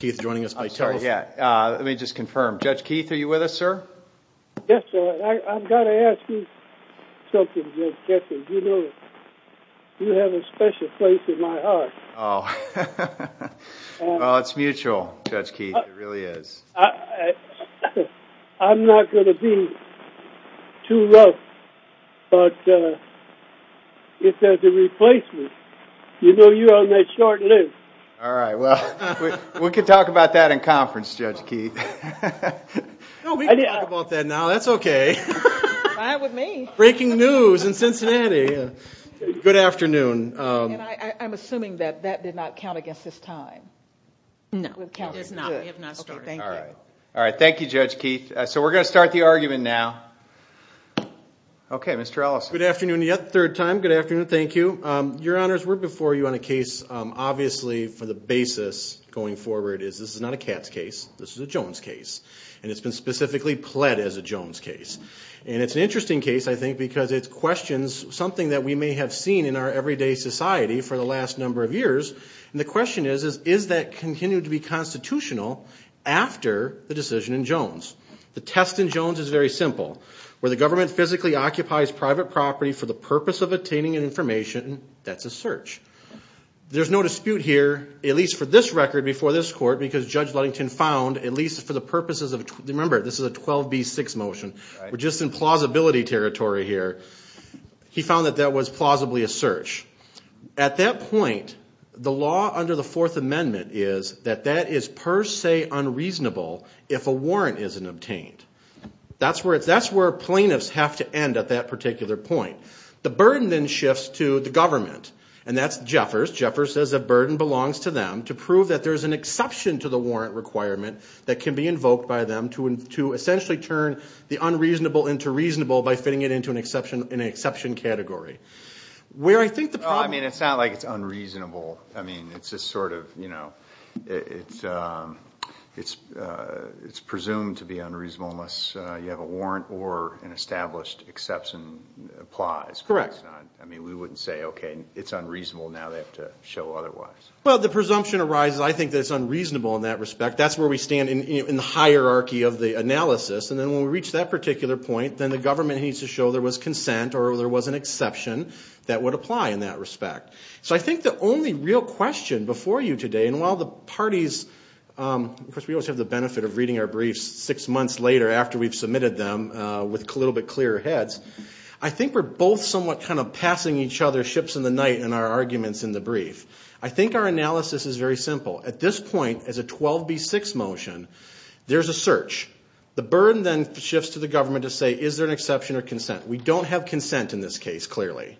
Keith joining us. Let me just confirm, Judge Keith, are you with us, sir? Yes, sir. I've got to ask you something, Judge Kessler. You know, you have a special place in my heart. Oh, well, it's mutual, Judge Keith. It really is. I'm not going to be too rough, but if there's a replacement, you know you're on that short list. All right, well, we can talk about that in conference, Judge Keith. No, we can talk about that now. That's OK. Fine with me. Breaking news in Cincinnati. Good afternoon. And I'm assuming that that did not count against this time. No, it does not. We have not started. All right. All right. Thank you, Judge Keith. So we're going to start the argument now. OK, Mr. Ellis. Good afternoon. The third time. Good afternoon. Thank you. Your honors, we're before you on a case, obviously, for the basis going forward is this is not a Katz case. This is a Jones case. And it's been specifically pled as a Jones case. And it's an interesting case, I think, because it's questions something that we may have seen in our everyday society for the last number of years. And the question is, is that continued to be constitutional after the decision in Jones? The test in Jones is very simple, where the government physically occupies private property for the purpose of attaining information. That's a search. There's no dispute here, at least for this record before this court, because Judge Ludington found at least for the purposes of remember, this is a 12 B six motion. We're just in plausibility territory here. He found that that was plausibly a search at that point. The law under the Fourth Amendment is that that is per se unreasonable if a warrant isn't obtained. That's where it's that's where plaintiffs have to end at that particular point. The burden then shifts to the government. And that's Jeffers. Jeffers says a burden belongs to them to prove that there is an exception to the warrant requirement that can be invoked by them to to essentially turn the unreasonable into reasonable by fitting it into an exception in an exception category where I think the I mean, it's not like it's unreasonable. I mean, it's just sort of, you know, it's it's it's presumed to be unreasonable unless you have a warrant or an established exception applies. Correct. I mean, we wouldn't say, OK, it's unreasonable now. They have to show otherwise. Well, the presumption arises. I think that's unreasonable in that respect. That's where we stand in the hierarchy of the analysis. And then when we reach that particular point, then the government needs to show there was consent or there was an exception that would apply in that respect. So I think the only real question before you today, and while the parties, of course, we always have the benefit of reading our briefs six months later after we've submitted them with a little bit clearer heads. I think we're both somewhat kind of passing each other ships in the night and our arguments in the brief. I think our analysis is very simple. At this point, as a 12B6 motion, there's a search. The burden then shifts to the government to say, is there an exception or consent? We don't have consent in this case, clearly.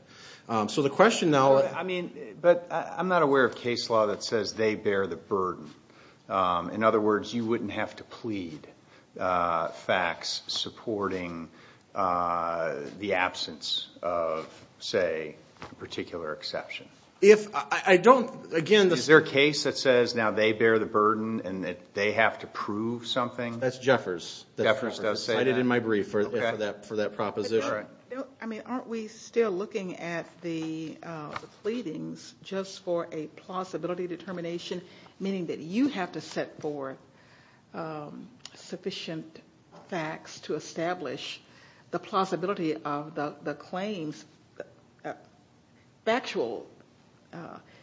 So the question now, I mean, but I'm not aware of case law that says they bear the burden. In other words, you wouldn't have to plead facts supporting the absence of, say, a particular exception. If I don't again, is there a case that says now they bear the burden and that they have to prove something? That's Jeffers. Jeffers does say that. I did it in my brief for that proposition. I mean, aren't we still looking at the pleadings just for a plausibility determination, meaning that you have to set forth sufficient facts to establish the plausibility of the claims? You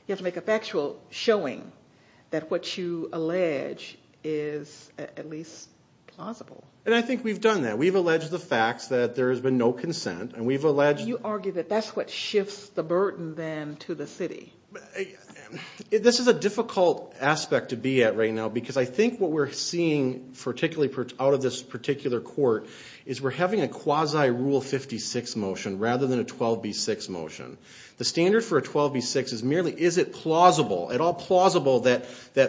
have to make a factual showing that what you allege is at least plausible. And I think we've done that. We've alleged the facts that there has been no consent and we've alleged... You argue that that's what shifts the burden then to the city. This is a difficult aspect to be at right now because I think what we're seeing particularly out of this particular court is we're having a quasi rule 56 motion rather than a 12B6 motion. The standard for a 12B6 is merely is it plausible, at all plausible that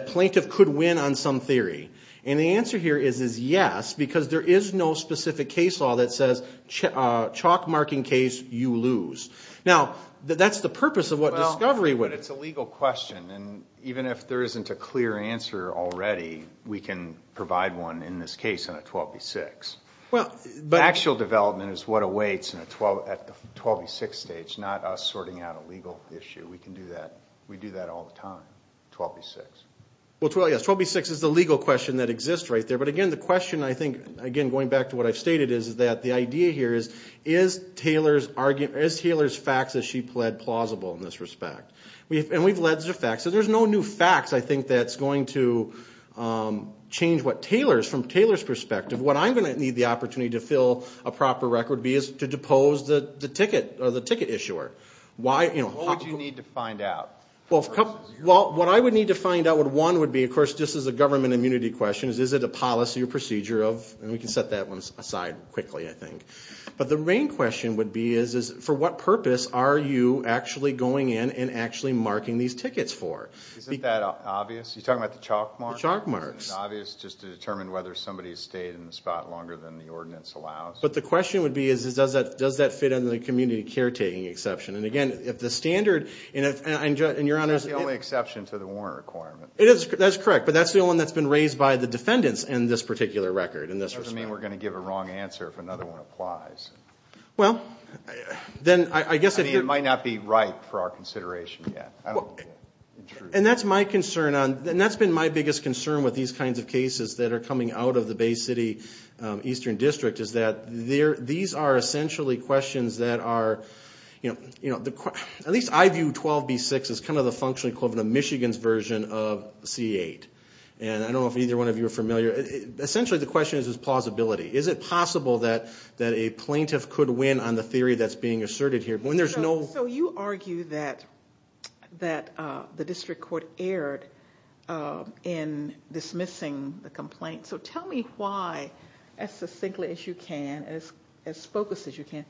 plaintiff could win on some theory? And the answer here is yes, because there is no specific case law that says chalk marking case, you lose. Now, that's the purpose of what discovery would. It's a legal question and even if there isn't a clear answer already, we can provide one in this case on a 12B6. But actual development is what awaits at the 12B6 stage, not us sorting out a legal issue. We can do that. We do that all the time, 12B6. Well, 12B6 is the legal question that exists right there. But again, the question I think, again, going back to what I've stated is that the idea here is, is Taylor's facts that she pled plausible in this respect? And we've alleged the facts. So there's no new facts, I think, that's going to change what Taylor's, from Taylor's perspective. What I'm going to need the opportunity to fill a proper record would be is to depose the ticket, or the ticket issuer. Why, you know? What would you need to find out? Well, what I would need to find out would, one would be, of course, this is a government immunity question, is it a policy or procedure of, and we can set that one aside quickly, I think. But the main question would be is, is for what purpose are you actually going in and actually marking these tickets for? Isn't that obvious? You're talking about the chalk marks? The chalk marks. Isn't it obvious just to determine whether somebody's stayed in the spot longer than the ordinance allows? But the question would be is, does that fit in the community caretaking exception? And again, if the standard, and if, and your Honor's. That's the only exception to the warrant requirement. It is, that's correct. But that's the only one that's been raised by the defendants in this particular record, in this respect. Doesn't mean we're going to give a wrong answer if another one applies. Well, then I guess. I mean, it might not be right for our consideration yet. And that's my concern on, and that's been my biggest concern with these kinds of cases that are coming out of the Bay City Eastern District, is that these are essentially questions that are, you know, at least I view 12B6 as kind of the functioning code of the Michigan's version of C8. And I don't know if either one of you are familiar. Essentially, the question is, is plausibility. Is it possible that a plaintiff could win on the theory that's being asserted here when there's no. So you argue that the district court erred in dismissing the complaint. So tell me why, as succinctly as you can, as focused as you can,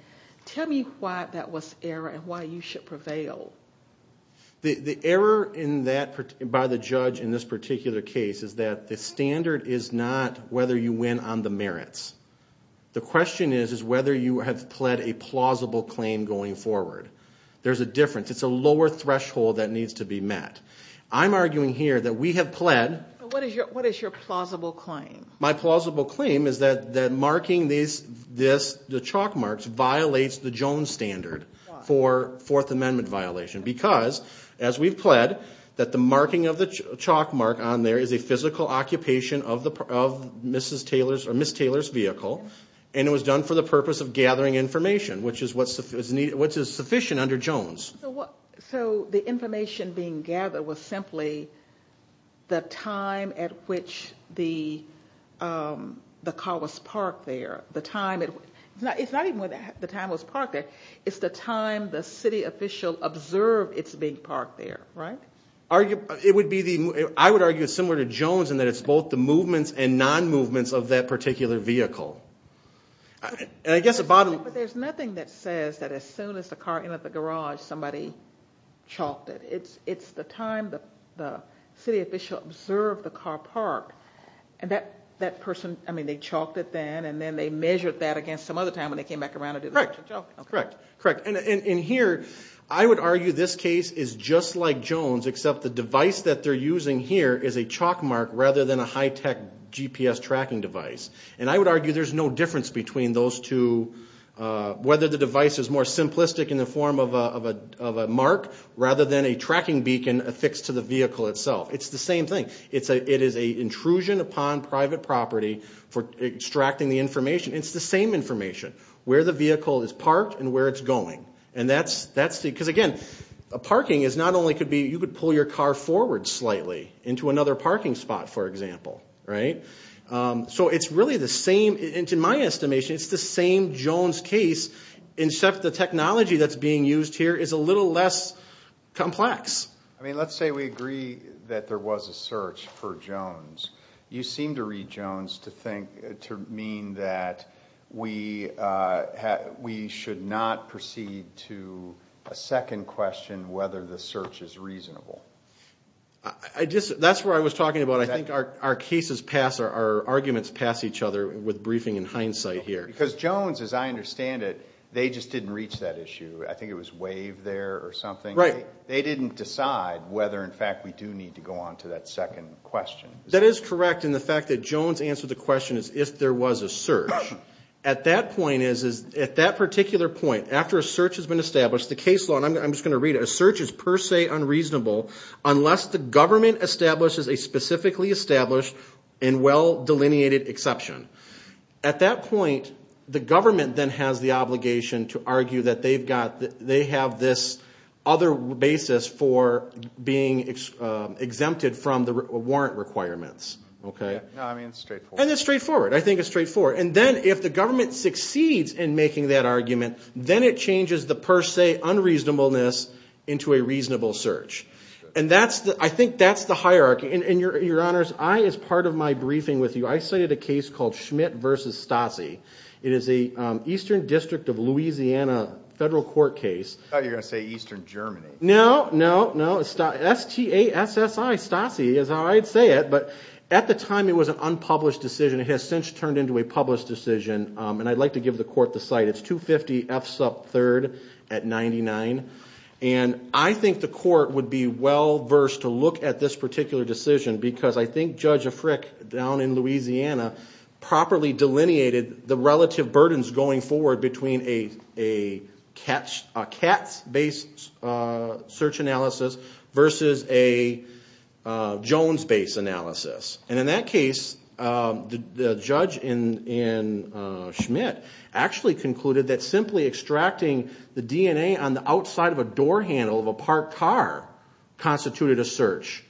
tell me why that was error and why you should prevail. The error in that, by the judge in this particular case, is that the standard is not whether you win on the merits. The question is, is whether you have pled a plausible claim going forward. There's a difference. It's a lower threshold that needs to be met. I'm arguing here that we have pled. What is your plausible claim? My plausible claim is that marking the chalk marks violates the Jones standard for Fourth Amendment violation. Because, as we've pled, that the marking of the chalk mark on there is a physical occupation of Mrs. Taylor's or which is sufficient under Jones. So the information being gathered was simply the time at which the car was parked there. The time, it's not even when the time was parked there, it's the time the city official observed it's being parked there, right? I would argue it's similar to Jones in that it's both the movements and non-movements of that particular vehicle. There's nothing that says that as soon as the car entered the garage, somebody chalked it. It's the time the city official observed the car parked. And that person, I mean, they chalked it then, and then they measured that against some other time when they came back around and did another chalking. Correct. Correct. And here, I would argue this case is just like Jones, except the device that they're using here is a chalk mark rather than a high-tech GPS tracking device. And I would argue there's no difference between those two, whether the device is more simplistic in the form of a mark rather than a tracking beacon affixed to the vehicle itself. It's the same thing. It is an intrusion upon private property for extracting the information. It's the same information, where the vehicle is parked and where it's going. And that's the, because again, a parking is not only could be, you could pull your car forward slightly into another parking spot, for example, right? So it's really the same, and to my estimation, it's the same Jones case, except the technology that's being used here is a little less complex. I mean, let's say we agree that there was a search for Jones. You seem to read Jones to think, to mean that we should not proceed to a second question, whether the search is reasonable. I just, that's where I was talking about. I think our cases pass, our arguments pass each other with briefing in hindsight here. Because Jones, as I understand it, they just didn't reach that issue. I think it was WAVE there or something. Right. They didn't decide whether, in fact, we do need to go on to that second question. That is correct. And the fact that Jones answered the question is if there was a search. At that point is, at that particular point, after a search has been established, the case law, and I'm just going to read it, a search is per se unreasonable unless the government establishes a specifically established and well-delineated exception. At that point, the government then has the obligation to argue that they've got, they have this other basis for being exempted from the warrant requirements. Okay. No, I mean, it's straightforward. And it's straightforward. I think it's straightforward. And then if the government succeeds in making that argument, then it changes the per se unreasonableness into a reasonable search. And that's the, I think that's the hierarchy. And your, your honors, I, as part of my briefing with you, I cited a case called Schmidt versus Stassi. It is a Eastern district of Louisiana federal court case. I thought you were going to say Eastern Germany. No, no, no. It's S-T-A-S-S-I, Stassi is how I'd say it. But at the time it was an unpublished decision. It has since turned into a published decision. And I'd like to give the court the site. It's 250 F sub 3rd at 99. And I think the court would be well versed to look at this particular decision because I think Judge Africk down in Louisiana properly delineated the relative burdens going forward between a, a CATS, a CATS based search analysis versus a Jones based analysis. And in that case the, the judge in, in Schmidt actually concluded that simply extracting the DNA on the outside of a door handle of a parked car constituted a search.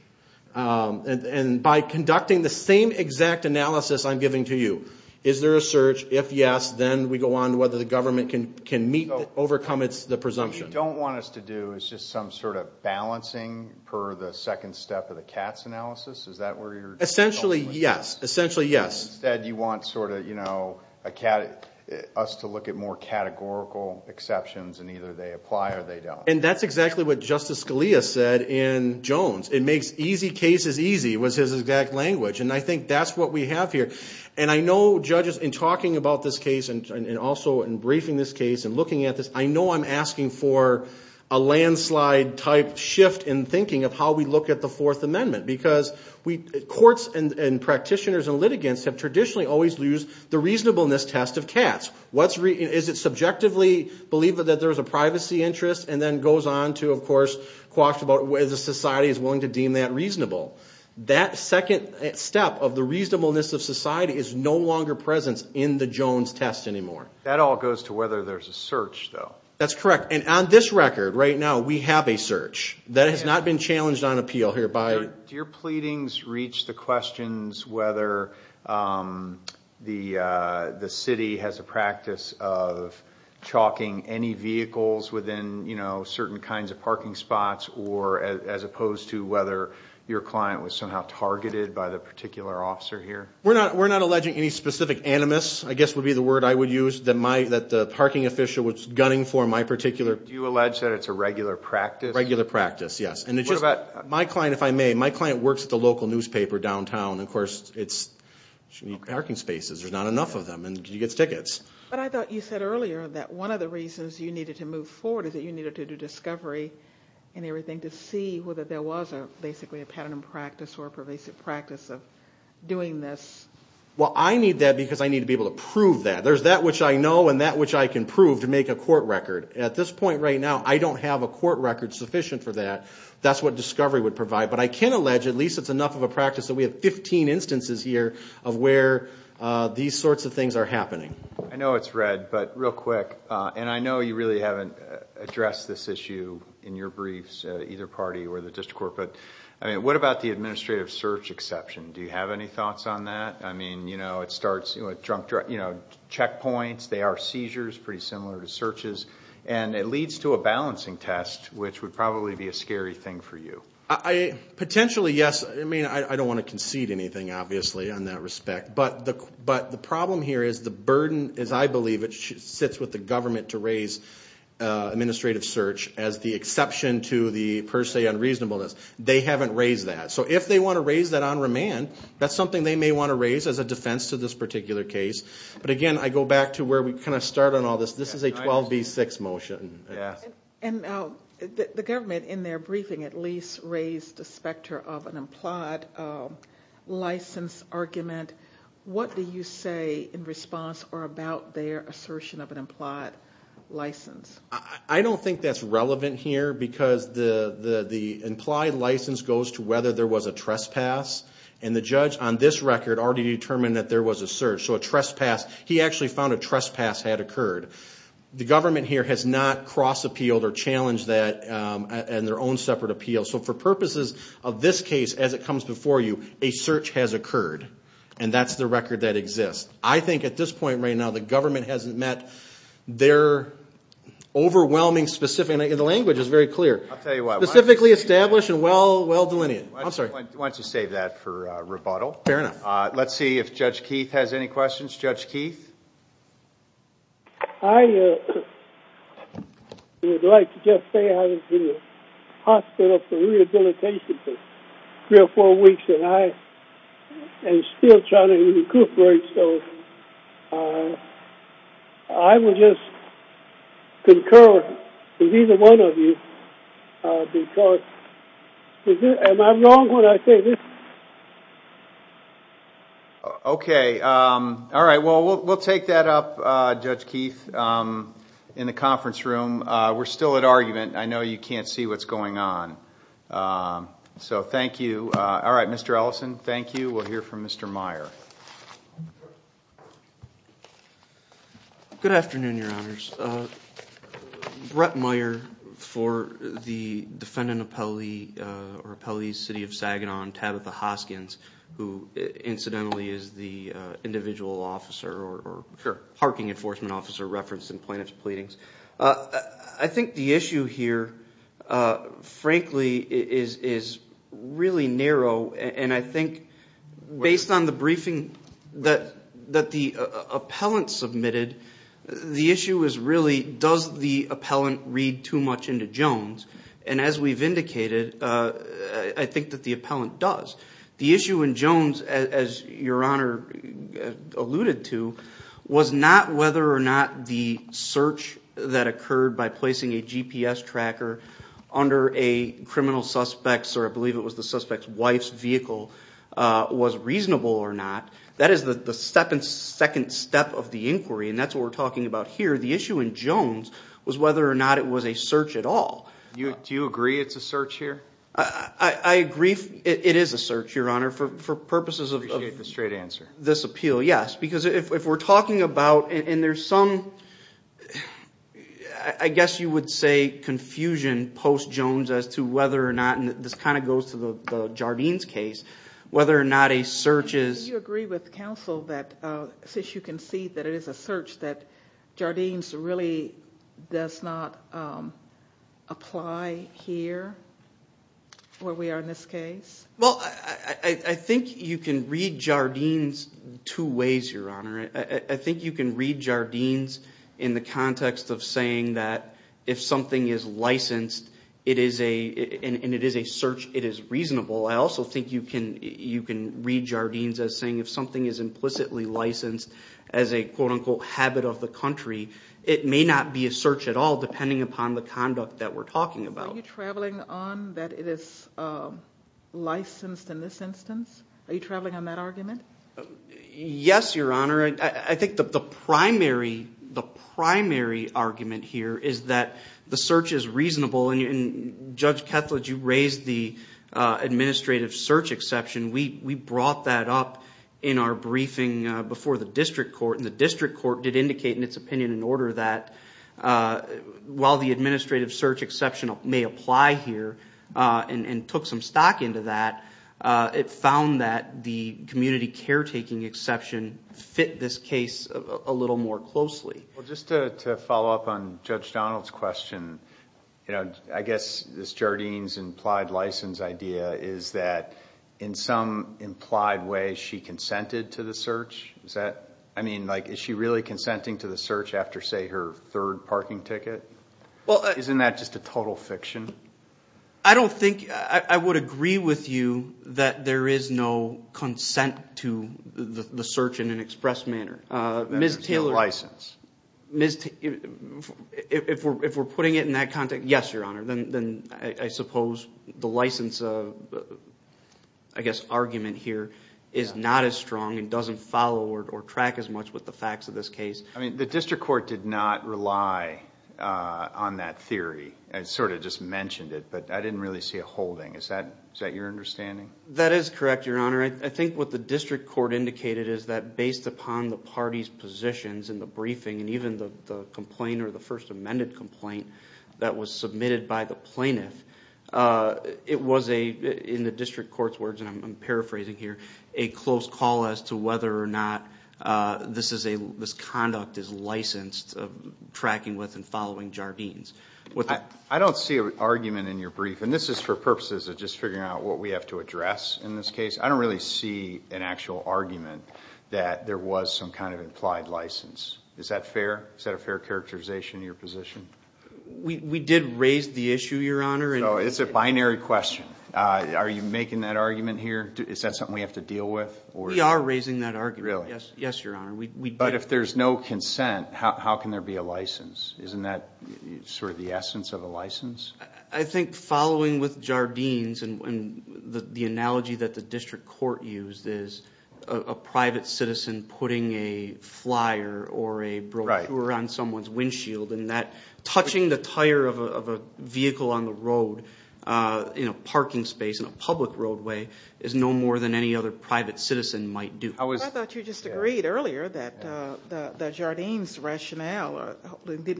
And, and by conducting the same exact analysis I'm giving to you, is there a search? If yes, then we go on to whether the government can, can meet, overcome its, the presumption. What you don't want us to do is just some sort of balancing per the second step of the CATS analysis. Is that where you're essentially? Yes. Essentially. Yes. Instead you want sort of, you know, a cat, us to look at more categorical exceptions and either they apply or they don't. And that's exactly what Justice Scalia said in Jones. It makes easy cases easy was his exact language. And I think that's what we have here. And I know judges in talking about this case and also in briefing this case and looking at this, I know I'm asking for a landslide type shift in thinking of how we look at the fourth amendment. Because we, courts and, and practitioners and litigants have traditionally always used the reasonableness test of CATS. What's re, is it subjectively believe that there's a privacy interest and then goes on to, of course, quash about whether society is willing to deem that reasonable. That second step of the reasonableness of society is no longer presence in the Jones test anymore. That all goes to whether there's a search though. That's correct. And on this record right now, we have a search. That has not been challenged on appeal here by. Do your pleadings reach the questions, whether, the, the city has a practice of chalking any vehicles within, you know, certain kinds of parking spots or as opposed to whether your client was somehow targeted by the particular officer here. We're not, we're not alleging any specific animus, I guess would be the word I would use that my, that the parking official was gunning for my particular. Do you allege that it's a regular practice? Regular practice. Yes. And it's just my client, if I may, my client works at the local newspaper downtown. And of course it's parking spaces. There's not enough of them and he gets tickets. But I thought you said earlier that one of the reasons you needed to move forward is that you needed to do discovery and everything to see whether there was a, basically a pattern of practice or a pervasive practice of doing this. Well, I need that because I need to be able to prove that there's that which I know, and that which I can prove to make a court record at this point right now, I don't have a court record sufficient for that. That's what discovery would provide. But I can allege, at least it's enough of a practice that we have 15 instances here of where these sorts of things are happening. I know it's red, but real quick, and I know you really haven't addressed this issue in your briefs, either party or the district court, but I mean, what about the administrative search exception? Do you have any thoughts on that? I mean, you know, it starts, you know, checkpoints, they are seizures, pretty similar to searches. And it leads to a balancing test, which would probably be a scary thing for you. I potentially, yes. I mean, I don't want to concede anything, obviously, in that respect. But the problem here is the burden, as I believe it sits with the government to raise administrative search as the exception to the per se unreasonableness. They haven't raised that. So if they want to raise that on remand, that's something they may want to raise as a defense to this particular case. But again, I go back to where we kind of start on all this. This is a 12-B-6 motion. And the government in their briefing at least raised the specter of an implied license argument. What do you say in response or about their assertion of an implied license? I don't think that's relevant here because the implied license goes to whether there was a trespass. And the judge on this record already determined that there was a search. So a trespass, he actually found a trespass had occurred. The government here has not cross-appealed or challenged that in their own separate appeal. So for purposes of this case, as it comes before you, a search has occurred. And that's the record that exists. I think at this point right now, the government hasn't met their overwhelming specific, and the language is very clear, specifically established and well delineated. I'm sorry. Why don't you save that for rebuttal? Fair enough. Let's see if Judge Keith has any questions. Judge Keith? I would like to just say I was in the hospital for rehabilitation for three or four weeks, and I am still trying to recuperate. So I would just concur with either one of you because, am I wrong when I say this? Okay. All right. Well, we'll take that up, Judge Keith, in the conference room. We're still at argument. I know you can't see what's going on. So thank you. All right. Mr. Ellison, thank you. We'll hear from Mr. Meyer. Good afternoon, Your Honors. Brett Meyer for the defendant or appellee's city of Saginaw on Tabitha Hoskins, who incidentally is the individual officer or parking enforcement officer referenced in plaintiff's pleadings. I think the issue here, frankly, is really narrow. And I think based on the briefing that the appellant submitted, the issue is really, does the appellant read too much into Jones? And as we've indicated, I think that the appellant does. The issue in Jones, as Your Honor alluded to, was not whether or not the search that occurred by placing a GPS tracker under a criminal suspect's, or I believe it was the suspect's wife's vehicle, was reasonable or not. That is the second step of the inquiry. And that's what we're talking about here. The issue in Jones was whether or not it was a search at all. Do you agree it's a search here? I agree. It is a search, Your Honor, for purposes of this appeal. Yes. Because if we're talking about, and there's some, I guess you would say confusion post-Jones as to whether or not, and this kind of goes to the Jardines case, whether or not a search is... Well, I think you can read Jardines two ways, Your Honor. I think you can read Jardines in the context of saying that if something is licensed, and it is a search, it is reasonable. I also think you can read Jardines as saying if something is implicitly licensed as a quote-unquote habit of the country, it may not be a search at all, depending upon the conduct that we're talking about. Are you traveling on that it is licensed in this instance? Are you traveling on that argument? Yes, Your Honor. I think the primary argument here is that the search is reasonable. And Judge Kethledge, you raised the administrative search exception. We brought that up in our briefing before the district court, and the district court did indicate in its opinion in order that while the administrative search exception may apply here, and took some stock into that, it found that the community caretaking exception fit this case a little more closely. Well, just to follow up on Judge Donald's question, I guess this Jardines implied license idea is that in some implied way she consented to the search? Is that, I mean, like, is she really consenting to the search after, say, her third parking ticket? Well, isn't that just a total fiction? I don't think... I would agree with you that there is no consent to the search in an express manner. Ms. Taylor... Ms. Taylor, if we're putting it in that context, yes, Your Honor, then I suppose the license of, I guess, argument here is not as strong and doesn't follow or track as much with the facts of this case. I mean, the district court did not rely on that theory. I sort of just mentioned it, but I didn't really see a holding. Is that your understanding? That is correct, Your Honor. I think what the district court indicated is that based upon the party's positions in the briefing and even the complaint or the first amended complaint that was submitted by the plaintiff, it was a, in the district court's words, and I'm paraphrasing here, a close call as to whether or not this conduct is licensed tracking with and following Jardines. I don't see an argument in your brief, and this is for purposes of just figuring out what we have to address in this case. I don't really see an actual argument that there was some kind of implied license. Is that fair? Is that a fair characterization in your position? We did raise the issue, Your Honor. So it's a binary question. Are you making that argument here? Is that something we have to deal with? We are raising that argument. Really? Yes, Your Honor. But if there's no consent, how can there be a license? Isn't that sort of the essence of a license? I think following with Jardines and the analogy that the district court used is a private citizen putting a flyer or a brochure on someone's windshield and that touching the tire of a vehicle on the road in a parking space in a public roadway is no more than any other private citizen might do. I thought you just agreed earlier that the Jardines rationale did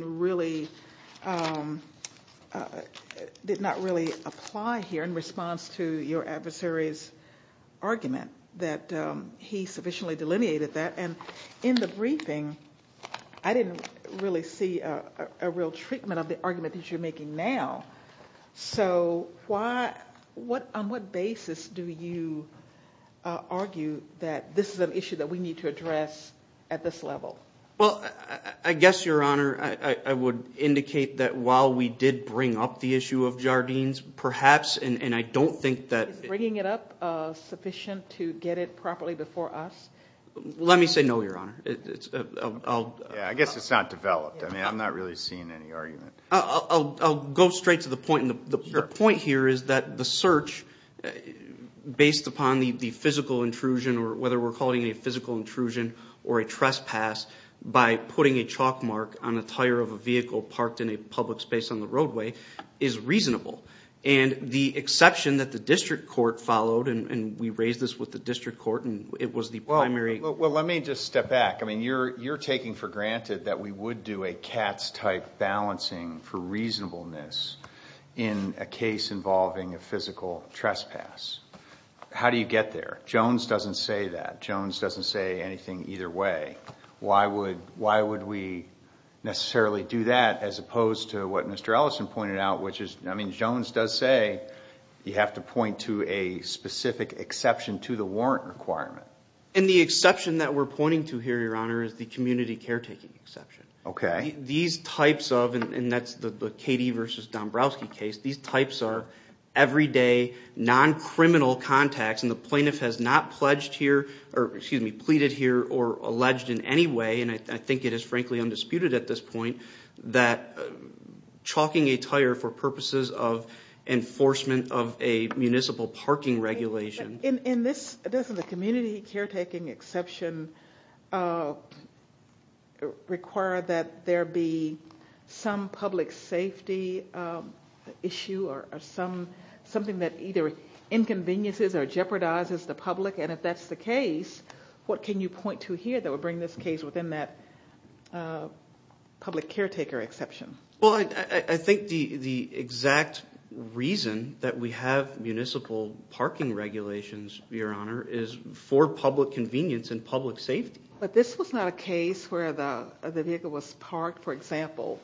not really apply here in response to your adversary's argument, that he sufficiently delineated that. And in the briefing, I didn't really see a real treatment of the argument that you're making now. So on what basis do you argue that this is an issue that we need to address at this level? Well, I guess, Your Honor, I would indicate that while we did bring up the issue of Jardines, perhaps, and I don't think that... Is bringing it up sufficient to get it properly before us? Let me say no, Your Honor. I guess it's not developed. I mean, I'm not really seeing any argument. I'll go straight to the point. And the point here is that the search, based upon the physical intrusion or whether we're calling a physical intrusion or a trespass by putting a chalk mark on the tire of a vehicle parked in a public space on the roadway, is reasonable. And the exception that the district court followed, and we raised this with the district court, and it was the primary... Well, let me just step back. I mean, you're taking for granted that we would do a Katz-type balancing for reasonableness in a case involving a physical trespass. How do you get there? Jones doesn't say that. Jones doesn't say anything either way. Why would we necessarily do that as opposed to what Mr. Ellison pointed out, which is, I mean, Jones does say you have to point to a specific exception to the warrant requirement. And the exception that we're pointing to here, Your Honor, is the community caretaking exception. Okay. These types of, and that's the Katie versus Dombrowski case, these types are everyday, non-criminal contacts. And the plaintiff has not pledged here, or excuse me, pleaded here or alleged in any way, and I think it is frankly undisputed at this point, that chalking a tire for purposes of enforcement of a municipal parking regulation... In this, doesn't the community caretaking exception require that there be some public safety issue or something that either inconveniences or jeopardizes the public? And if that's the case, what can you point to here that would bring this case within that public caretaker exception? Well, I think the exact reason that we have municipal parking regulations, Your Honor, is for public convenience and public safety. But this was not a case where the vehicle was parked, for example,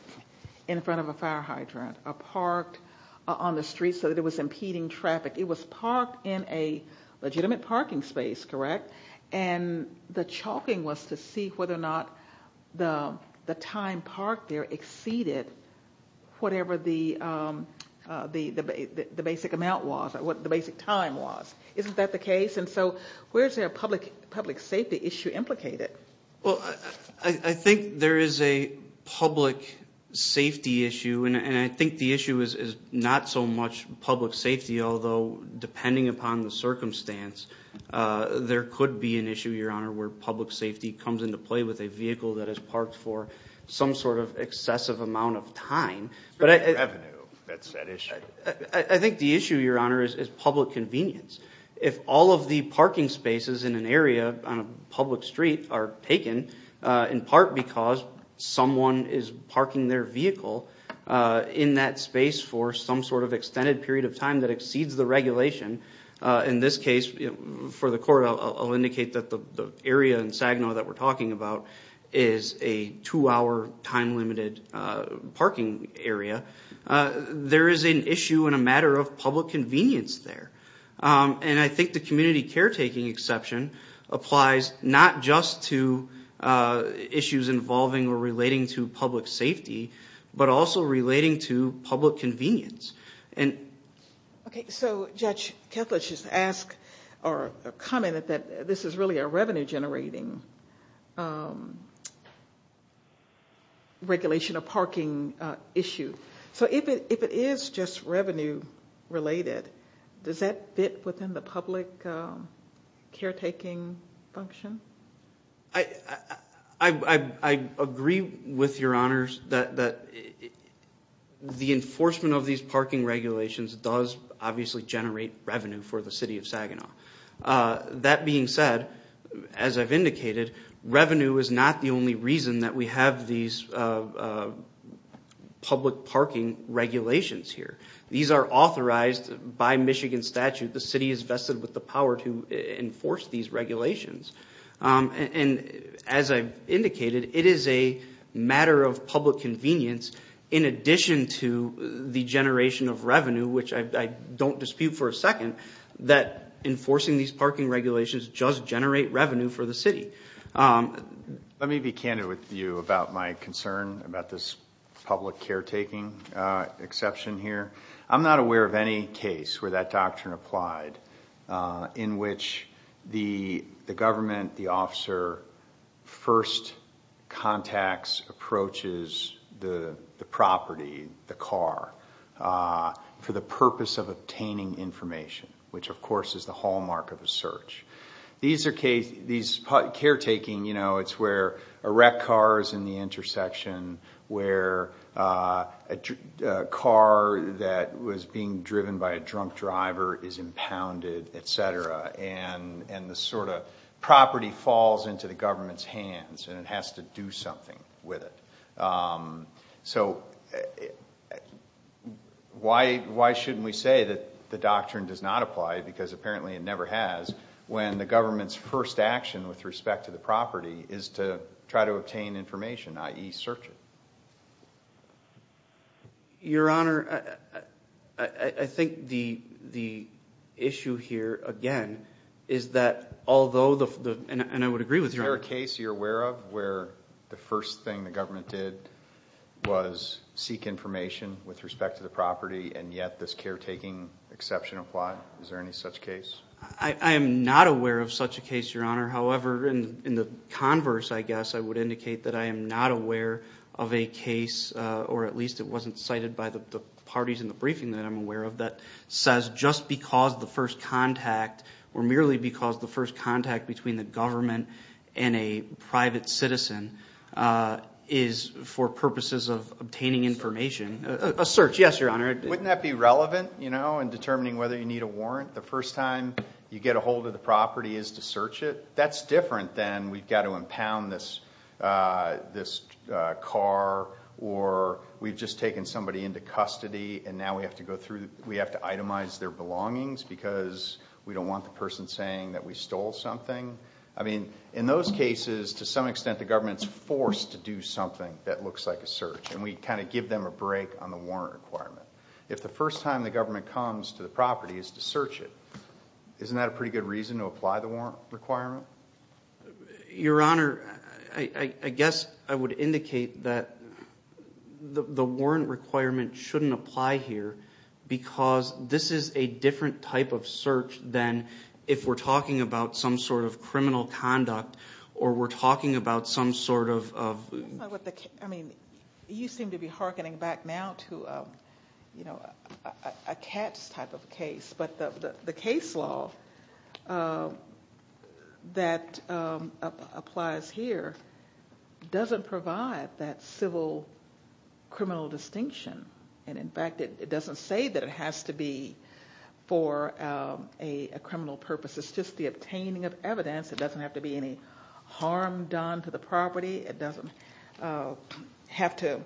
in front of a fire hydrant, or parked on the street so that it was impeding traffic. It was parked in a legitimate parking space, correct? And the chalking was to see whether or not the time parked there exceeded whatever the basic amount was, or what the basic time was. Isn't that the case? And so, where is there a public safety issue implicated? Well, I think there is a public safety issue, and I think the issue is not so much public safety, although depending upon the circumstance, there could be an issue, Your Honor, where public safety comes into play with a vehicle that is parked for some sort of excessive amount of time. It's revenue that's at issue. I think the issue, Your Honor, is public convenience. If all of the parking spaces in an area on a public street are taken, in part because someone is parking their vehicle in that space for some sort of extended period of time that exceeds the regulation, in this case, for the court, I'll indicate that the area in Saginaw that we're talking about is a two-hour, time-limited parking area, there is an issue and a matter of public convenience there. And I think the community caretaking exception applies not just to issues involving or relating to public safety, but also relating to public convenience. Okay, so Judge Kethledge just asked or commented that this is really a revenue-generating regulation, a parking issue. So if it is just revenue-related, does that fit within the public caretaking function? I agree with Your Honors that the enforcement of these parking regulations does obviously generate revenue for the city of Saginaw. That being said, as I've indicated, revenue is not the only reason that we have these public parking regulations here. These are authorized by Michigan statute. The city is vested with the power to enforce these regulations. And as I've indicated, it is a matter of public convenience in addition to the generation of revenue, which I don't dispute for a second, that enforcing these parking regulations does generate revenue for the city. Let me be candid with you about my concern about this public caretaking exception here. I'm not aware of any case where that doctrine applied in which the government, the officer, first contacts, approaches the property, the car, for the purpose of obtaining information, which of course is the hallmark of a search. These caretaking, you know, it's where a wrecked car is in the intersection, where a car that was being driven by a drunk driver is impounded, et cetera, and the sort of property falls into the government's hands and it has to do something with it. So why shouldn't we say that the doctrine does not apply, because apparently it never has, when the government's first action with respect to the property is to try to obtain information, i.e. search it? Your Honor, I think the issue here, again, is that although the, and I would agree with you. Is there a case you're aware of where the first thing the government did was seek information with respect to the property and yet this caretaking exception applied? Is there any such case? I am not aware of such a case, Your Honor. However, in the converse, I guess, I would indicate that I am not aware of a case, or at least it wasn't cited by the parties in the briefing that I'm aware of, that says just because the first contact, or merely because the first contact between the government and a private citizen is for purposes of obtaining information, a search, yes, Your Honor. Wouldn't that be relevant, you know, in determining whether you need a warrant the first time you get a hold of the property is to search it? That's different than we've got to impound this car or we've just taken somebody into custody and now we have to go through, we have to itemize their belongings because we don't want the person saying that we stole something. I mean, in those cases, to some extent, the government's forced to do something that looks like a search and we kind of give them a break on the warrant requirement. If the first time the government comes to the property is to search it, isn't that a pretty good reason to apply the warrant requirement? Your Honor, I guess I would indicate that the warrant requirement shouldn't apply here because this is a different type of search than if we're talking about some sort of criminal conduct or we're talking about some sort of... I mean, you seem to be hearkening back now to, you know, a cat's type of case, but the case law that applies here doesn't provide that civil criminal distinction and in fact, it doesn't say that it has to be for a criminal purpose. It's just the obtaining of evidence. It doesn't have to be any harm done to the property. It doesn't have to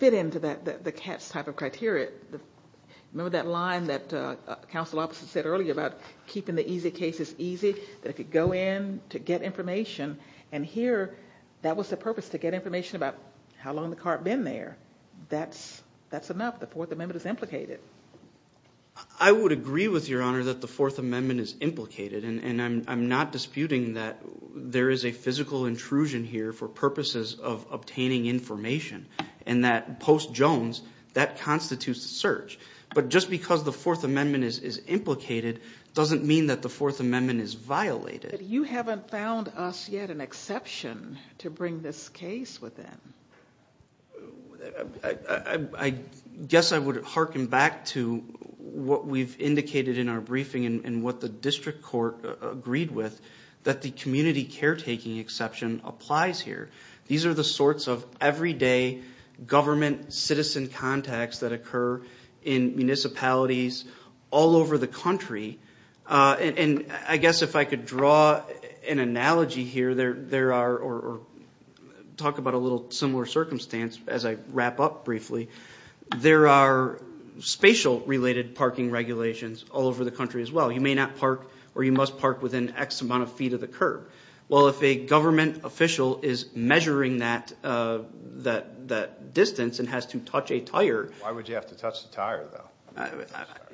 fit into the cat's type of criteria. Remember that line that counsel officer said earlier about keeping the easy cases easy, that if you go in to get information and here, that was the purpose, to get information about how long the cart been there. That's enough. The Fourth Amendment is implicated. I would agree with Your Honor that the Fourth Amendment is implicated and I'm not disputing that there is a physical intrusion here for purposes of obtaining information and that post Jones, that constitutes a search, but just because the Fourth Amendment is implicated doesn't mean that the Fourth Amendment is violated. But you haven't found us yet an exception to bring this case within. I guess I would hearken back to what we've indicated in our briefing and what the district court agreed with that the community caretaking exception applies here. These are the sorts of everyday government citizen contacts that occur in municipalities all over the country. I guess if I could draw an analogy here or talk about a little similar circumstance as I wrap up briefly, there are spatial related parking regulations all over the country as well. You may not park or you must park within X amount of feet of the curb. Well, if a government official is measuring that distance and has to touch a tire. Why would you have to touch the tire though?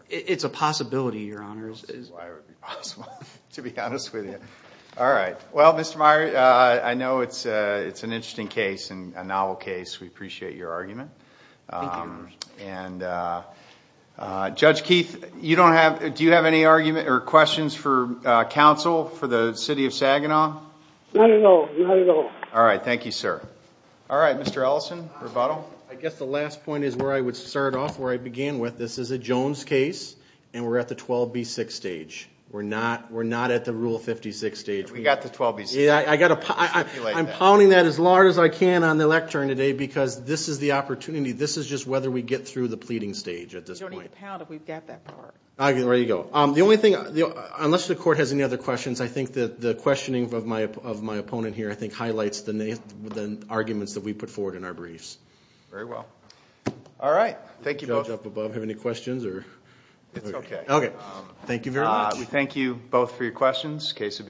It's a possibility, Your Honors. That's why it would be possible, to be honest with you. All right. Well, Mr. Meyer, I know it's an interesting case and a novel case. We appreciate your argument. Judge Keith, do you have any questions for counsel for the city of Saginaw? Not at all, not at all. All right. Thank you, sir. All right. Mr. Ellison, rebuttal. I guess the last point is where I would start off where I began with. This is a Jones case and we're at the 12B6 stage. We're not at the Rule 56 stage. We got the 12B6. Yeah, I'm pounding that as loud as I can on the lectern today because this is the opportunity. This is just whether we get through the pleading stage at this point. You don't need to pound if we've got that far. All right. Ready to go. The only thing, unless the court has any other questions, I think that the questioning of my opponent here, I think highlights the arguments that we put forward in our briefs. Very well. All right. Thank you. Does the judge up above have any questions? It's okay. Okay. Thank you very much. We thank you both for your questions.